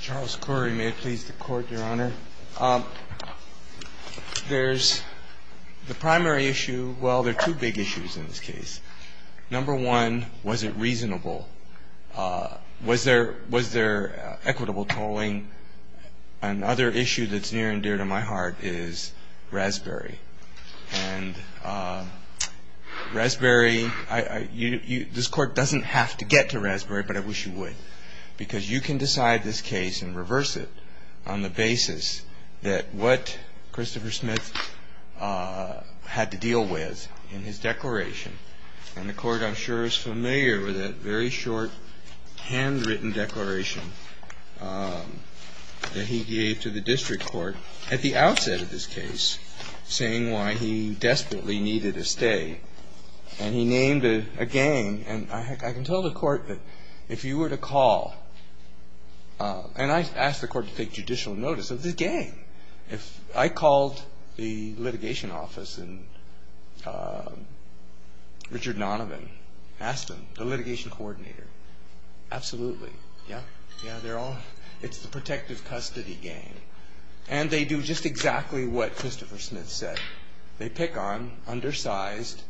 Charles Corey may it please the court your honor. There's the primary issue well there are two big issues in this case. Number one was it reasonable? Was there was there equitable tolling? Another issue that's near and dear to my heart is Raspberry and Raspberry I you this court doesn't have to get to this case and reverse it on the basis that what Christopher Smith had to deal with in his declaration and the court I'm sure is familiar with a very short handwritten declaration that he gave to the district court at the outset of this case saying why he desperately needed a stay and he named a gang and I can tell the court that if you were to call and I asked the court to take judicial notice of this gang if I called the litigation office and Richard Nonovan asked him the litigation coordinator absolutely yeah yeah they're all it's the protective custody game and they do just exactly what Christopher Smith said they pick on undersized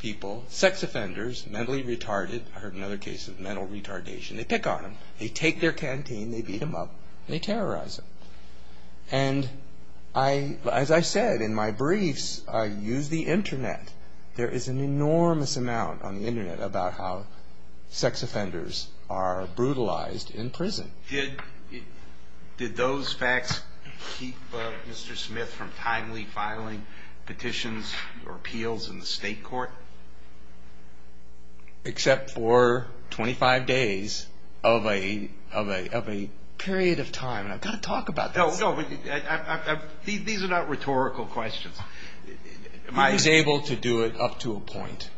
people sex offenders mentally retarded I heard another case of mental retardation they pick on him they take their canteen they beat him up they terrorize him and I as I said in my briefs I use the internet there is an enormous amount on the internet about how sex offenders are brutalized in petitions or appeals in the state court except for 25 days of a of a period of time and I've got to talk about these are not rhetorical questions I was able to do it up to a point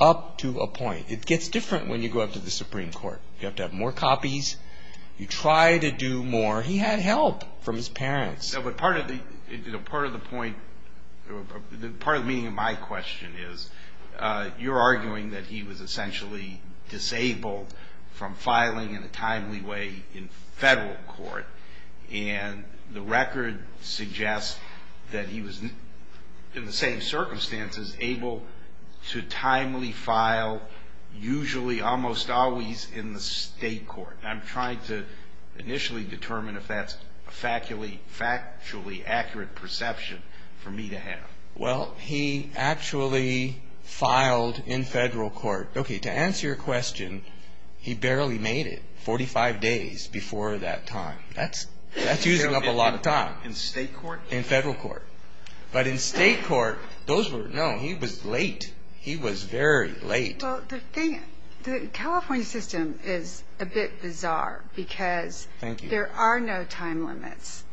up to a point it gets different when you go up to the Supreme Court you have to have more copies you try to do more he had help from his parents but part of the part of the point the part of meeting my question is you're arguing that he was essentially disabled from filing in a timely way in federal court and the record suggests that he was in the same circumstances able to timely file usually almost always in the state court I'm trying to initially determine if that's a faculty factually accurate perception for me to have well he actually filed in federal court okay to answer your question he barely made it 45 days before that time that's that's using up a lot of time in state court in federal court but in state court those were no he was late he was very late the thing the California system is a bit bizarre because there are no time limits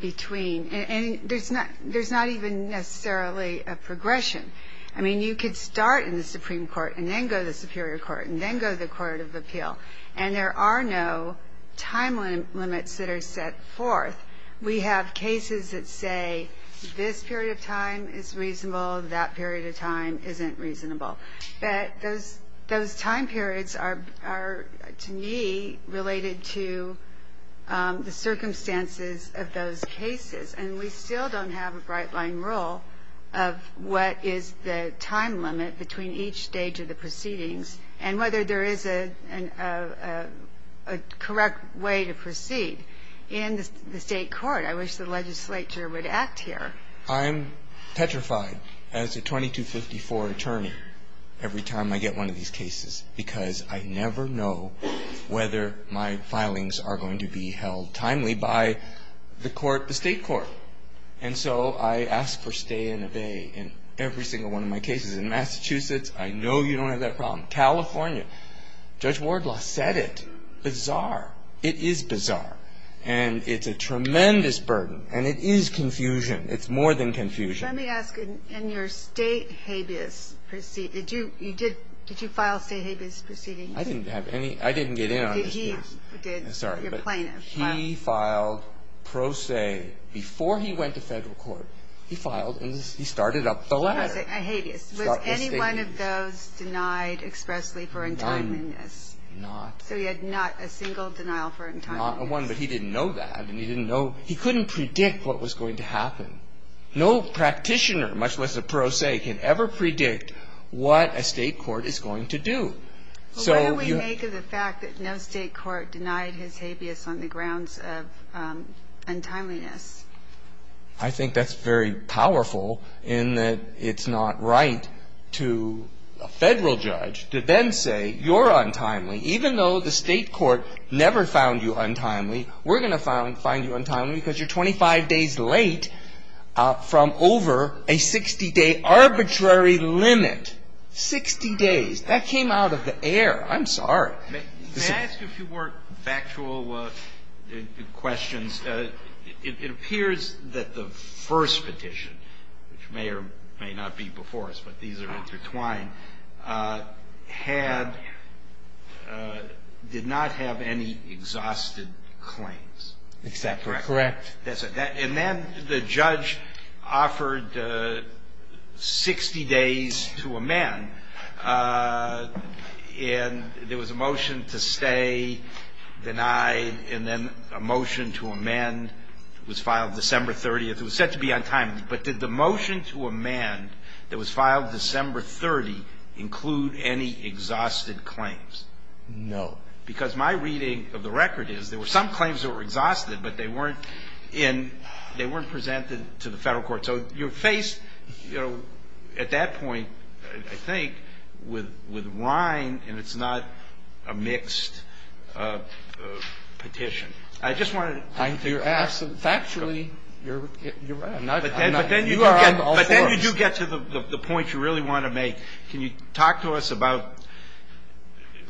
between and there's not there's not even necessarily a progression I mean you could start in the Supreme Court and then go the Superior Court and then go the Court of Appeal and there are no time limits that are set forth we have cases that say this period of time is reasonable that period of time isn't reasonable but those those time periods are to me related to the circumstances of those cases and we still don't have a bright line rule of what is the time limit between each stage of the proceedings and whether there is a correct way to proceed in the state court I wish the legislature would act here I'm petrified as a 2254 attorney every time I get one of these cases because I never know whether my filings are going to be held timely by the court the state court and so I asked for stay and obey in every single one of my cases in Massachusetts I know you don't have that problem California Judge Wardlaw said it bizarre it is bizarre and it's a tremendous burden and it is confusion it's more than confusion let me ask in your state habeas proceed did you you did did you file say habeas proceeding I didn't have any I didn't get in on sorry but he filed pro se before he went to federal court he filed and he started up the ladder any one of those denied expressly for in time yes not so he had not a single denial for in time not one but he didn't know that and he didn't know he couldn't predict what was going to happen no practitioner much less a pro se can ever predict what a state court is going to do so you make of the fact that no state court denied his habeas on the grounds of untimeliness I think that's very powerful in that it's not right to a federal judge to then say you're untimely even though the state court never found you untimely we're gonna find find you untimely because you're 25 days late from over a 60-day arbitrary limit 60 days that came out of the air I'm sorry if you weren't factual questions it appears that the first petition which may or may not be before us but these are intertwined had did not have any exhausted claims except correct and then the judge offered 60 days to a man and there was a motion to stay denied and then a motion to a man was filed December 30th was set to be on time but did the motion to a man that was filed December 30 include any exhausted claims no because my reading of the record is there were some claims that were exhausted but they weren't in they weren't presented to the federal court so you're faced you know at that point I think with with Ryan and it's not a mixed petition I just wanted to ask factually you get to the point you really want to make can you talk to us about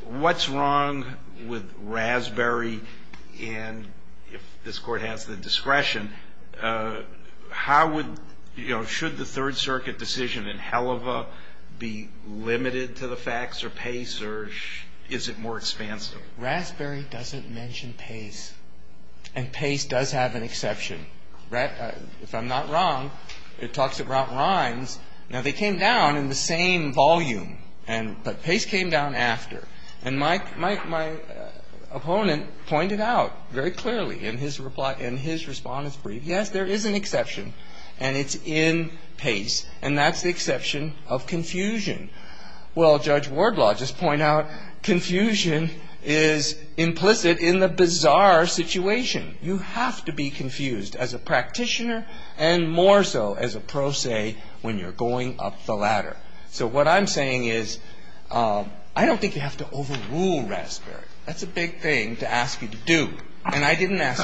what's wrong with Raspberry and if this court has the discretion how would you know should the Third Circuit decision in hell of a be limited to the facts or pace or is it more expansive Raspberry doesn't mention pace and pace does have an exception right if I'm not wrong it talks about rhymes now they came down in the same volume and but pace came down after and my opponent pointed out very clearly in his reply in his response brief yes there is an exception and it's in pace and that's the exception of confusion well judge to be confused as a practitioner and more so as a pro se when you're going up the ladder so what I'm saying is I don't think you have to overrule Raspberry that's a big thing to ask you to do and I didn't ask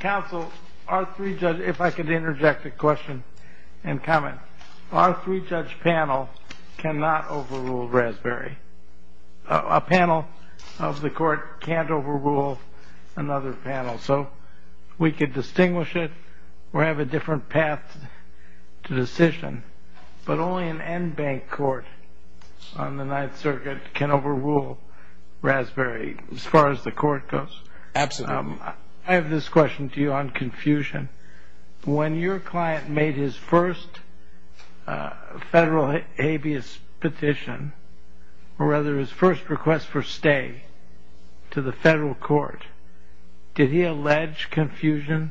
counsel our three judge if I could interject a question and comment our three judge panel cannot overrule Raspberry a panel of the court can't overrule another panel so we could distinguish it or have a different path to decision but only an end bank court on the Ninth Circuit can overrule Raspberry as far as the court goes absolutely I have this question to you on confusion when your client made his first federal habeas petition or rather his first request for stay to the federal court did he allege confusion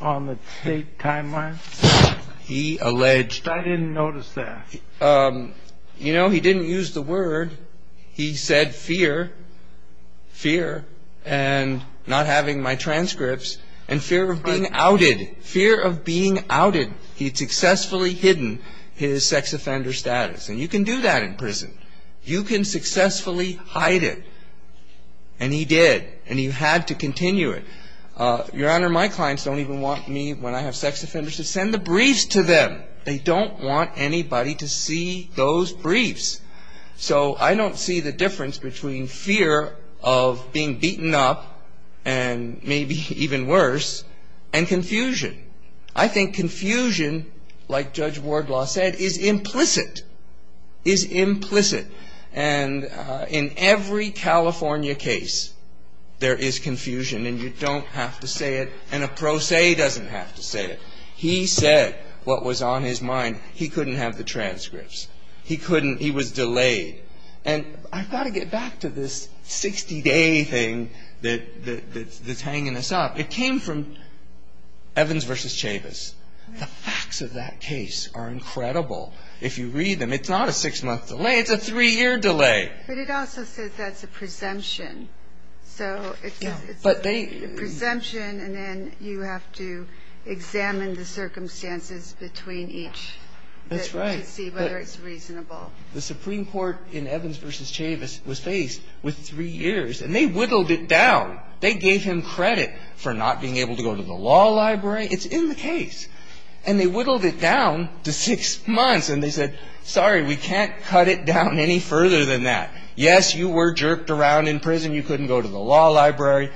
on the state timeline he alleged I didn't notice that you know he didn't use the word he said fear fear and not having my successfully hidden his sex offender status and you can do that in prison you can successfully hide it and he did and you had to continue it your honor my clients don't even want me when I have sex offenders to send the briefs to them they don't want anybody to see those briefs so I don't see the difference between fear of being beaten up and maybe even worse and confusion I think confusion like Judge Wardlaw said is implicit is implicit and in every California case there is confusion and you don't have to say it and a pro se doesn't have to say it he said what was on his mind he couldn't have the transcripts he couldn't he was delayed and I thought I'd get back to this 60 anything that's hanging us up it came from Evans versus Chavis the facts of that case are incredible if you read them it's not a six-month delay it's a three-year delay but it also says that's a presumption so but they presumption and then you have to examine the circumstances between each that's right see whether it's reasonable the Supreme Court in Evans versus Chavis was faced with three years and they whittled it down they gave him credit for not being able to go to the law library it's in the case and they whittled it down to six months and they said sorry we can't cut it down any further than that yes you were jerked around in prison you couldn't go to the law library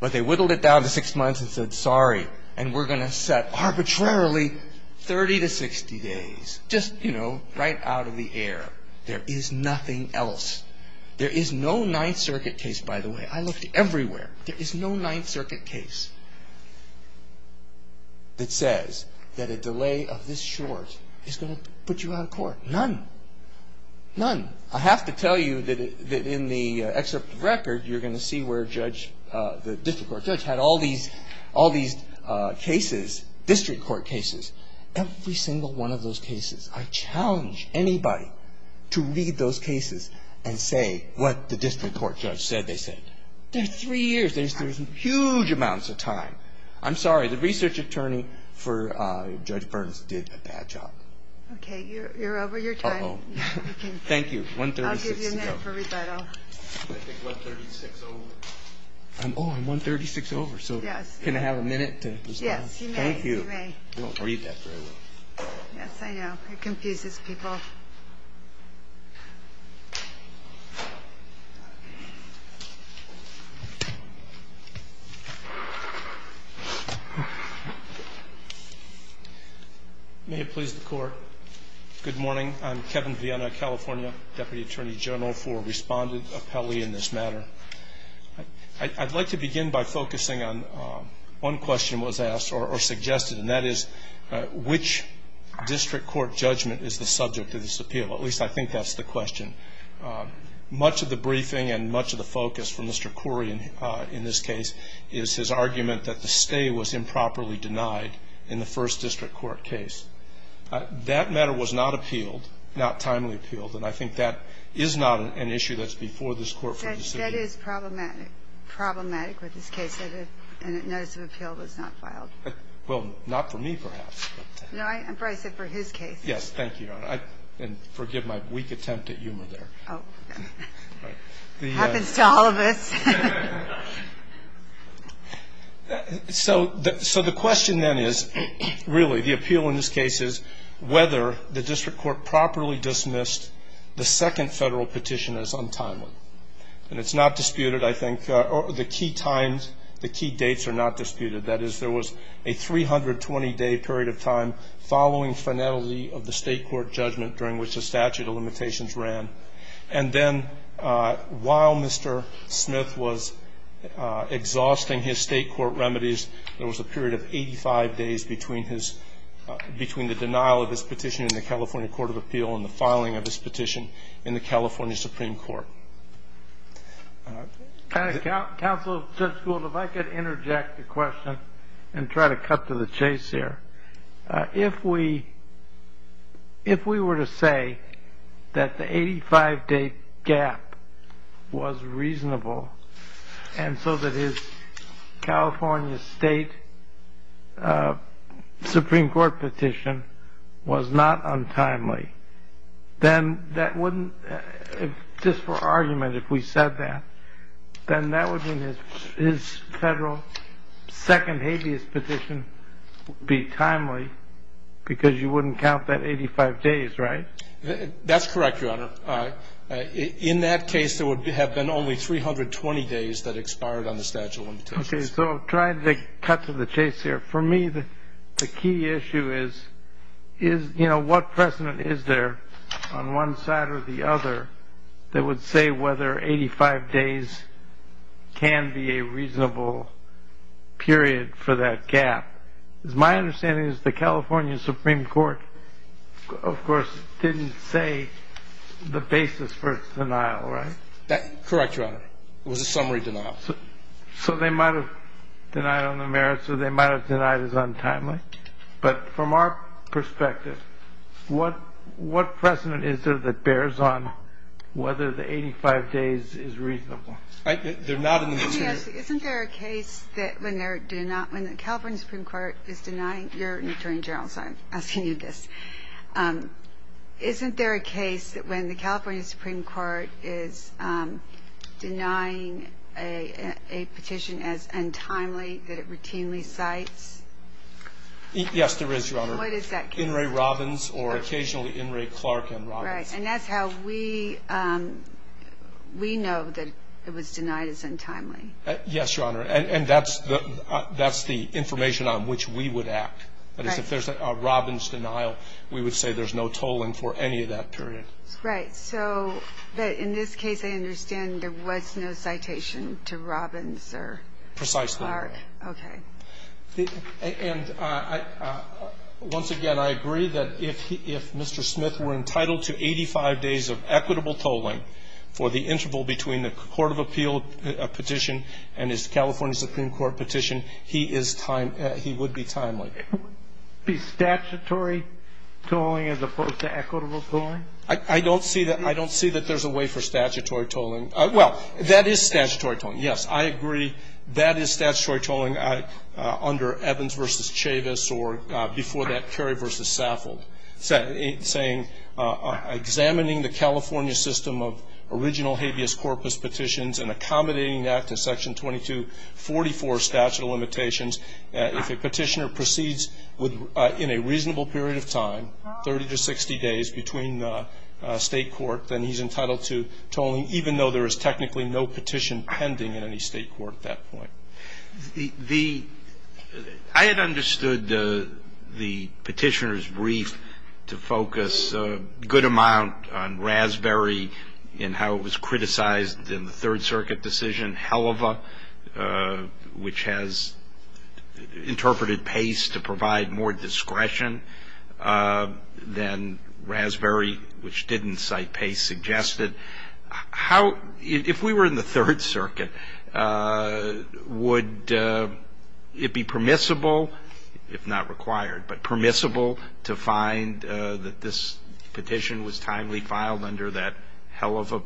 but they whittled it down to six months and said sorry and we're gonna set arbitrarily 30 to 60 days just you know right out of the air there is nothing else there is no Ninth Circuit case by the way I looked everywhere there is no Ninth Circuit case that says that a delay of this short is gonna put you out of court none none I have to tell you that in the excerpt record you're gonna see where judge the district court judge had all these all these cases district court cases every single one of those cases I challenge anybody to read those cases and say what the district court judge said they said there's three years there's huge amounts of time I'm sorry the research attorney for judge may it please the court good morning I'm Kevin Vienna California Deputy Attorney General for respondent appellee in this matter I'd like to begin by focusing on one question was asked or suggested and that is which district court judgment is the subject of this appeal at least I think that's the question much of the briefing and much of the focus for mr. Corian in this case is his argument that the stay was improperly denied in the first district court case that matter was not appealed not timely appealed and I think that is not an issue that's before this court for this problematic problematic with yes thank you and forgive my weak attempt at humor there so that so the question then is really the appeal in this case is whether the district court properly dismissed the second federal petition is untimely and it's not disputed I think or the key times the key dates are not disputed that is there was a 320 day period of time following finality of the state court judgment during which the statute of limitations ran and then while mr. Smith was exhausting his state court remedies there was a period of 85 days between his between the denial of his petition in the California Court of Appeal in the filing of this petition in the California Supreme Court Council Judge Gould if I could interject the question and try to cut to the chase here if we if we were to say that the 85-day gap was reasonable and so that his California State Supreme Court petition was not untimely then that wouldn't just for argument if we said that then that would mean his federal second habeas petition be timely because you wouldn't count that 85 days right that's correct your honor in that case there would be have been only 320 days that expired on the statute okay so trying to cut to the chase here for me the key issue is is you know what precedent is there on one side or the other that would say whether 85 days can be a reasonable period for that gap is my understanding is the California Supreme Court of course didn't say the basis for its denial right that correct your honor it was a summary denial so they might have denied on the merits or they might have denied as untimely but from our perspective what what precedent is there that bears on whether the 85 days is reasonable isn't there a case that when they're do not when the California Supreme Court is denying your attorney general so I'm asking you this isn't there a case when the California Supreme Court is denying a petition as untimely that it routinely sites yes there is your honor what is that in Ray Robbins or occasionally in Ray Clark and right and that's how we we know that it was denied as untimely yes your honor and that's the that's the information on which we would act but if there's a Robbins denial we would say there's no tolling for any of that period right so but in this case I understand there was no citation to Robbins sir precisely okay and once again I agree that if he if mr. Smith were entitled to 85 days of equitable tolling for the interval between the Court of Appeal a petition and his California Supreme Court petition he is time he would be timely be statutory tolling as opposed to equitable tolling I don't see that I don't see that there's a way for that is statutory tolling yes I agree that is statutory tolling I under Evans versus Chavis or before that Kerry versus Saffold said saying examining the California system of original habeas corpus petitions and accommodating that to section 2244 statute of limitations if a petitioner proceeds with in a reasonable period of time 30 to 60 days between the state court then he's entitled to tolling even though there is technically no petition pending in any state court at that point the I had understood the the petitioners brief to focus a good amount on raspberry in how it was criticized in the Third Circuit decision hell of a which has interpreted pace to provide more suggested how if we were in the Third Circuit would it be permissible if not required but permissible to find that this petition was timely filed under that hell of a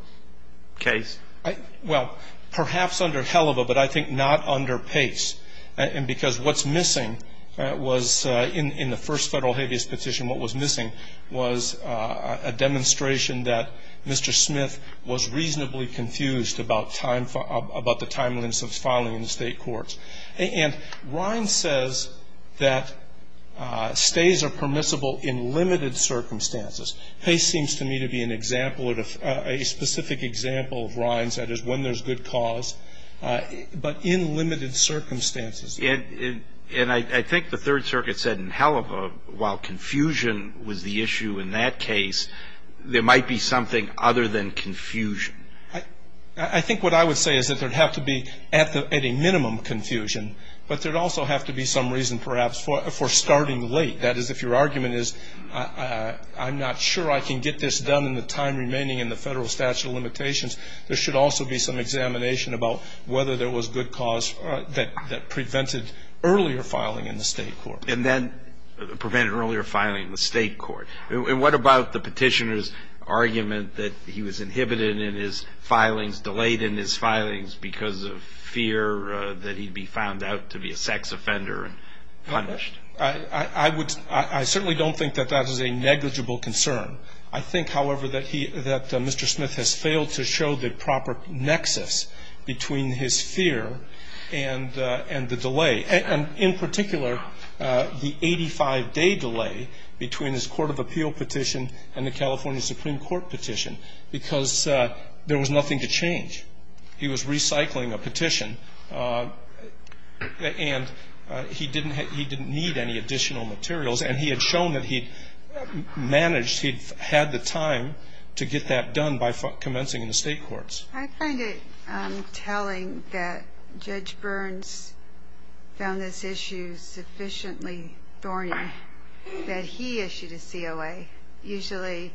case I well perhaps under hell of a but I think not under pace and because what's missing was in in the first federal habeas petition what was missing was a demonstration that Mr. Smith was reasonably confused about time for about the timelines of filing in the state courts and Ryan says that stays are permissible in limited circumstances pace seems to me to be an example of a specific example of Ryan's that is when there's good cause but in limited circumstances and and I think the Third Circuit said in hell of a while confusion was the issue in that case there might be something other than confusion I think what I would say is that there have to be at the minimum confusion but there also have to be some reason perhaps for for starting late that is if your argument is I'm not sure I can get this done in the time remaining in the federal statute of limitations there should also be some examination about whether there was good cause that prevented earlier filing in the state court and then prevented earlier filing the state court and what about the petitioners argument that he was inhibited in his filings delayed in his filings because of fear that he'd be found out to be a sex offender I would I certainly don't think that that is a negligible concern I think however that he that Mr. Smith has failed to show the proper nexus between his fear and and the delay and in particular the 85 day delay between his Court of Appeal petition and the California Supreme Court petition because there was nothing to change he was recycling a petition and he didn't he didn't need any additional materials and he had shown that he managed he'd had the time to get that done by commencing in the state courts. I find it telling that Judge Burns found this issue sufficiently thorny that he issued a COA usually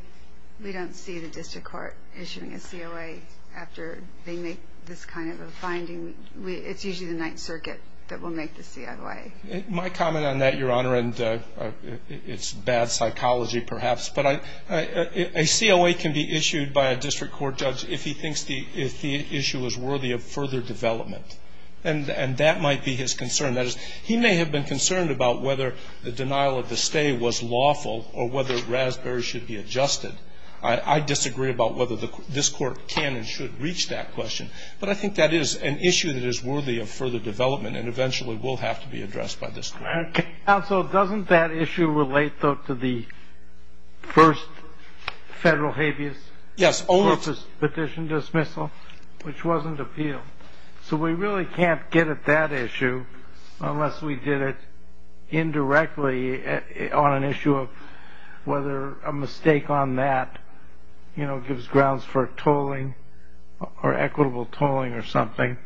we don't see the district court issuing a COA after they make this kind of a finding we it's usually the Ninth Circuit that will make the COA. My comment on that your honor and it's bad by a district court judge if he thinks the if the issue is worthy of further development and and that might be his concern that is he may have been concerned about whether the denial of the stay was lawful or whether Raspberry should be adjusted I disagree about whether the this court can and should reach that question but I think that is an issue that is worthy of further development and eventually will have to be addressed by this court. Counsel doesn't that issue relate though to the first federal habeas petition dismissal which wasn't appealed so we really can't get at that issue unless we did it indirectly on an issue of whether a mistake on that you know gives grounds for tolling or equitable tolling or something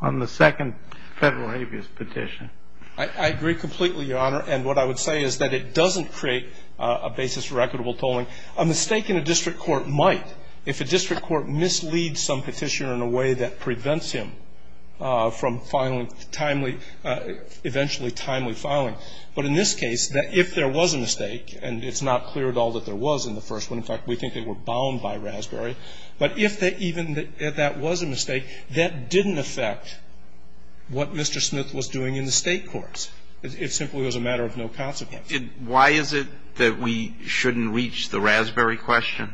on the second federal habeas petition. I agree completely your honor and what I would say is that it doesn't create a basis for equitable tolling. A mistake in a district court might if a district court misleads some petitioner in a way that prevents him from finally timely eventually timely filing but in this case that if there was a mistake and it's not clear at all that there was in the first one in fact we think they were bound by Raspberry but if they even that that was a mistake that didn't affect what Mr. Smith was doing in the state courts. It simply was a matter of no consequence. And why is it that we shouldn't reach the Raspberry question?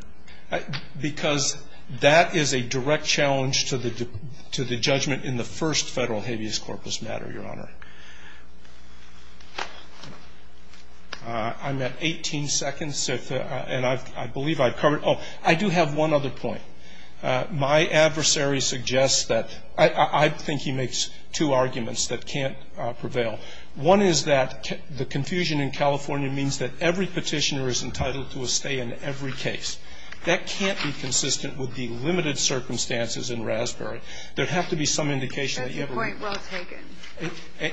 Because that is a direct challenge to the to the judgment in the first federal habeas corpus matter your honor. I'm at 18 seconds and I believe I've covered I do have one other point. My adversary suggests that I think he makes two arguments that can't prevail. One is that the confusion in California means that every petitioner is entitled to a stay in every case. That can't be consistent with the limited circumstances in Raspberry. There'd have to be some indication.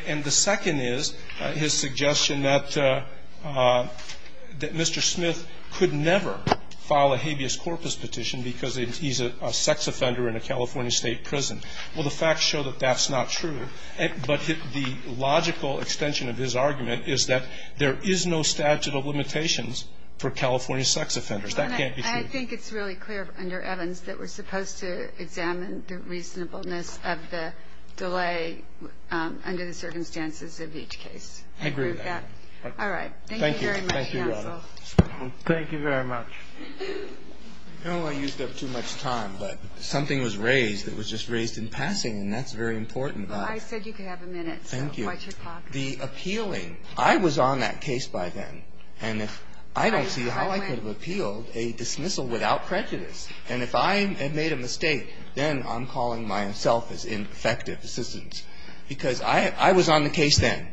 And the second is his suggestion that that Mr. Smith could never file a habeas corpus petition because he's a sex offender in a California state prison. Well the facts show that that's not true. But the logical extension of his argument is that there is no statute of limitations for California sex offenders. That can't be true. I think it's really clear under Evans that we're supposed to examine the reasonableness of the delay under the circumstances of each case. I agree with that. All right. Thank you. Thank you. Thank you very much. I don't want to use up too much time but something was raised that was just raised in passing and that's very important. I said you could have a minute. Thank you. The appealing. I was on that case by then and if I don't see how I could have appealed a dismissal without prejudice and if I had made a mistake then I'm calling myself as ineffective assistance because I was on the case then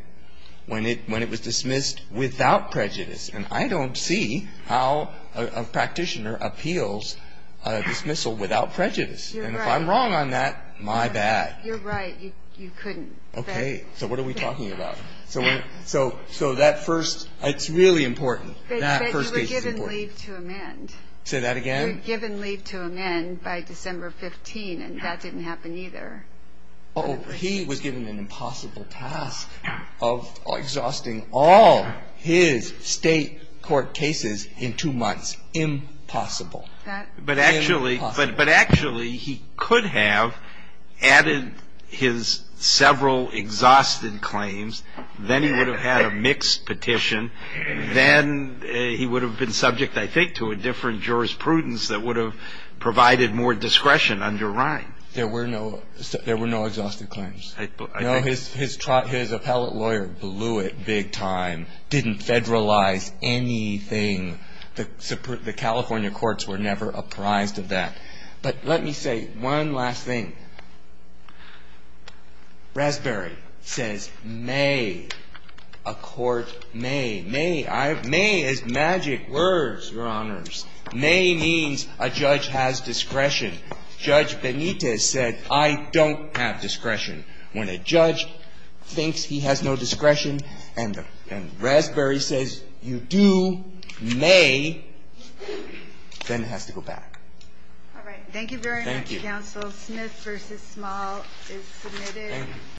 when it was dismissed without prejudice. And I don't see how a practitioner appeals a dismissal without prejudice. And if I'm wrong on that my bad. You're right. You couldn't. Okay. So what are we talking about? So so so that first it's really important. That first case is important. You were given leave to amend. Say that again? You were given leave to amend by December 15 and that didn't happen either. Oh he was given an impossible task of exhausting all his state court cases in two months. Impossible. But actually but but actually he could have added his several exhausted claims. Then he would have had a mixed petition. Then he would have been subject I think to a different jurisprudence that would have provided more discretion under Ryan. There were no there were no exhausted claims. I know his his his appellate lawyer blew it big time. Didn't federalize anything. The Supreme the California courts were never apprised of that. But let me say one last thing. Raspberry says may a court may may may is said I don't have discretion. When a judge thinks he has no discretion and and Raspberry says you do may then it has to go back. All right. Thank you very much counsel. Thank you. Smith v. Small is submitted.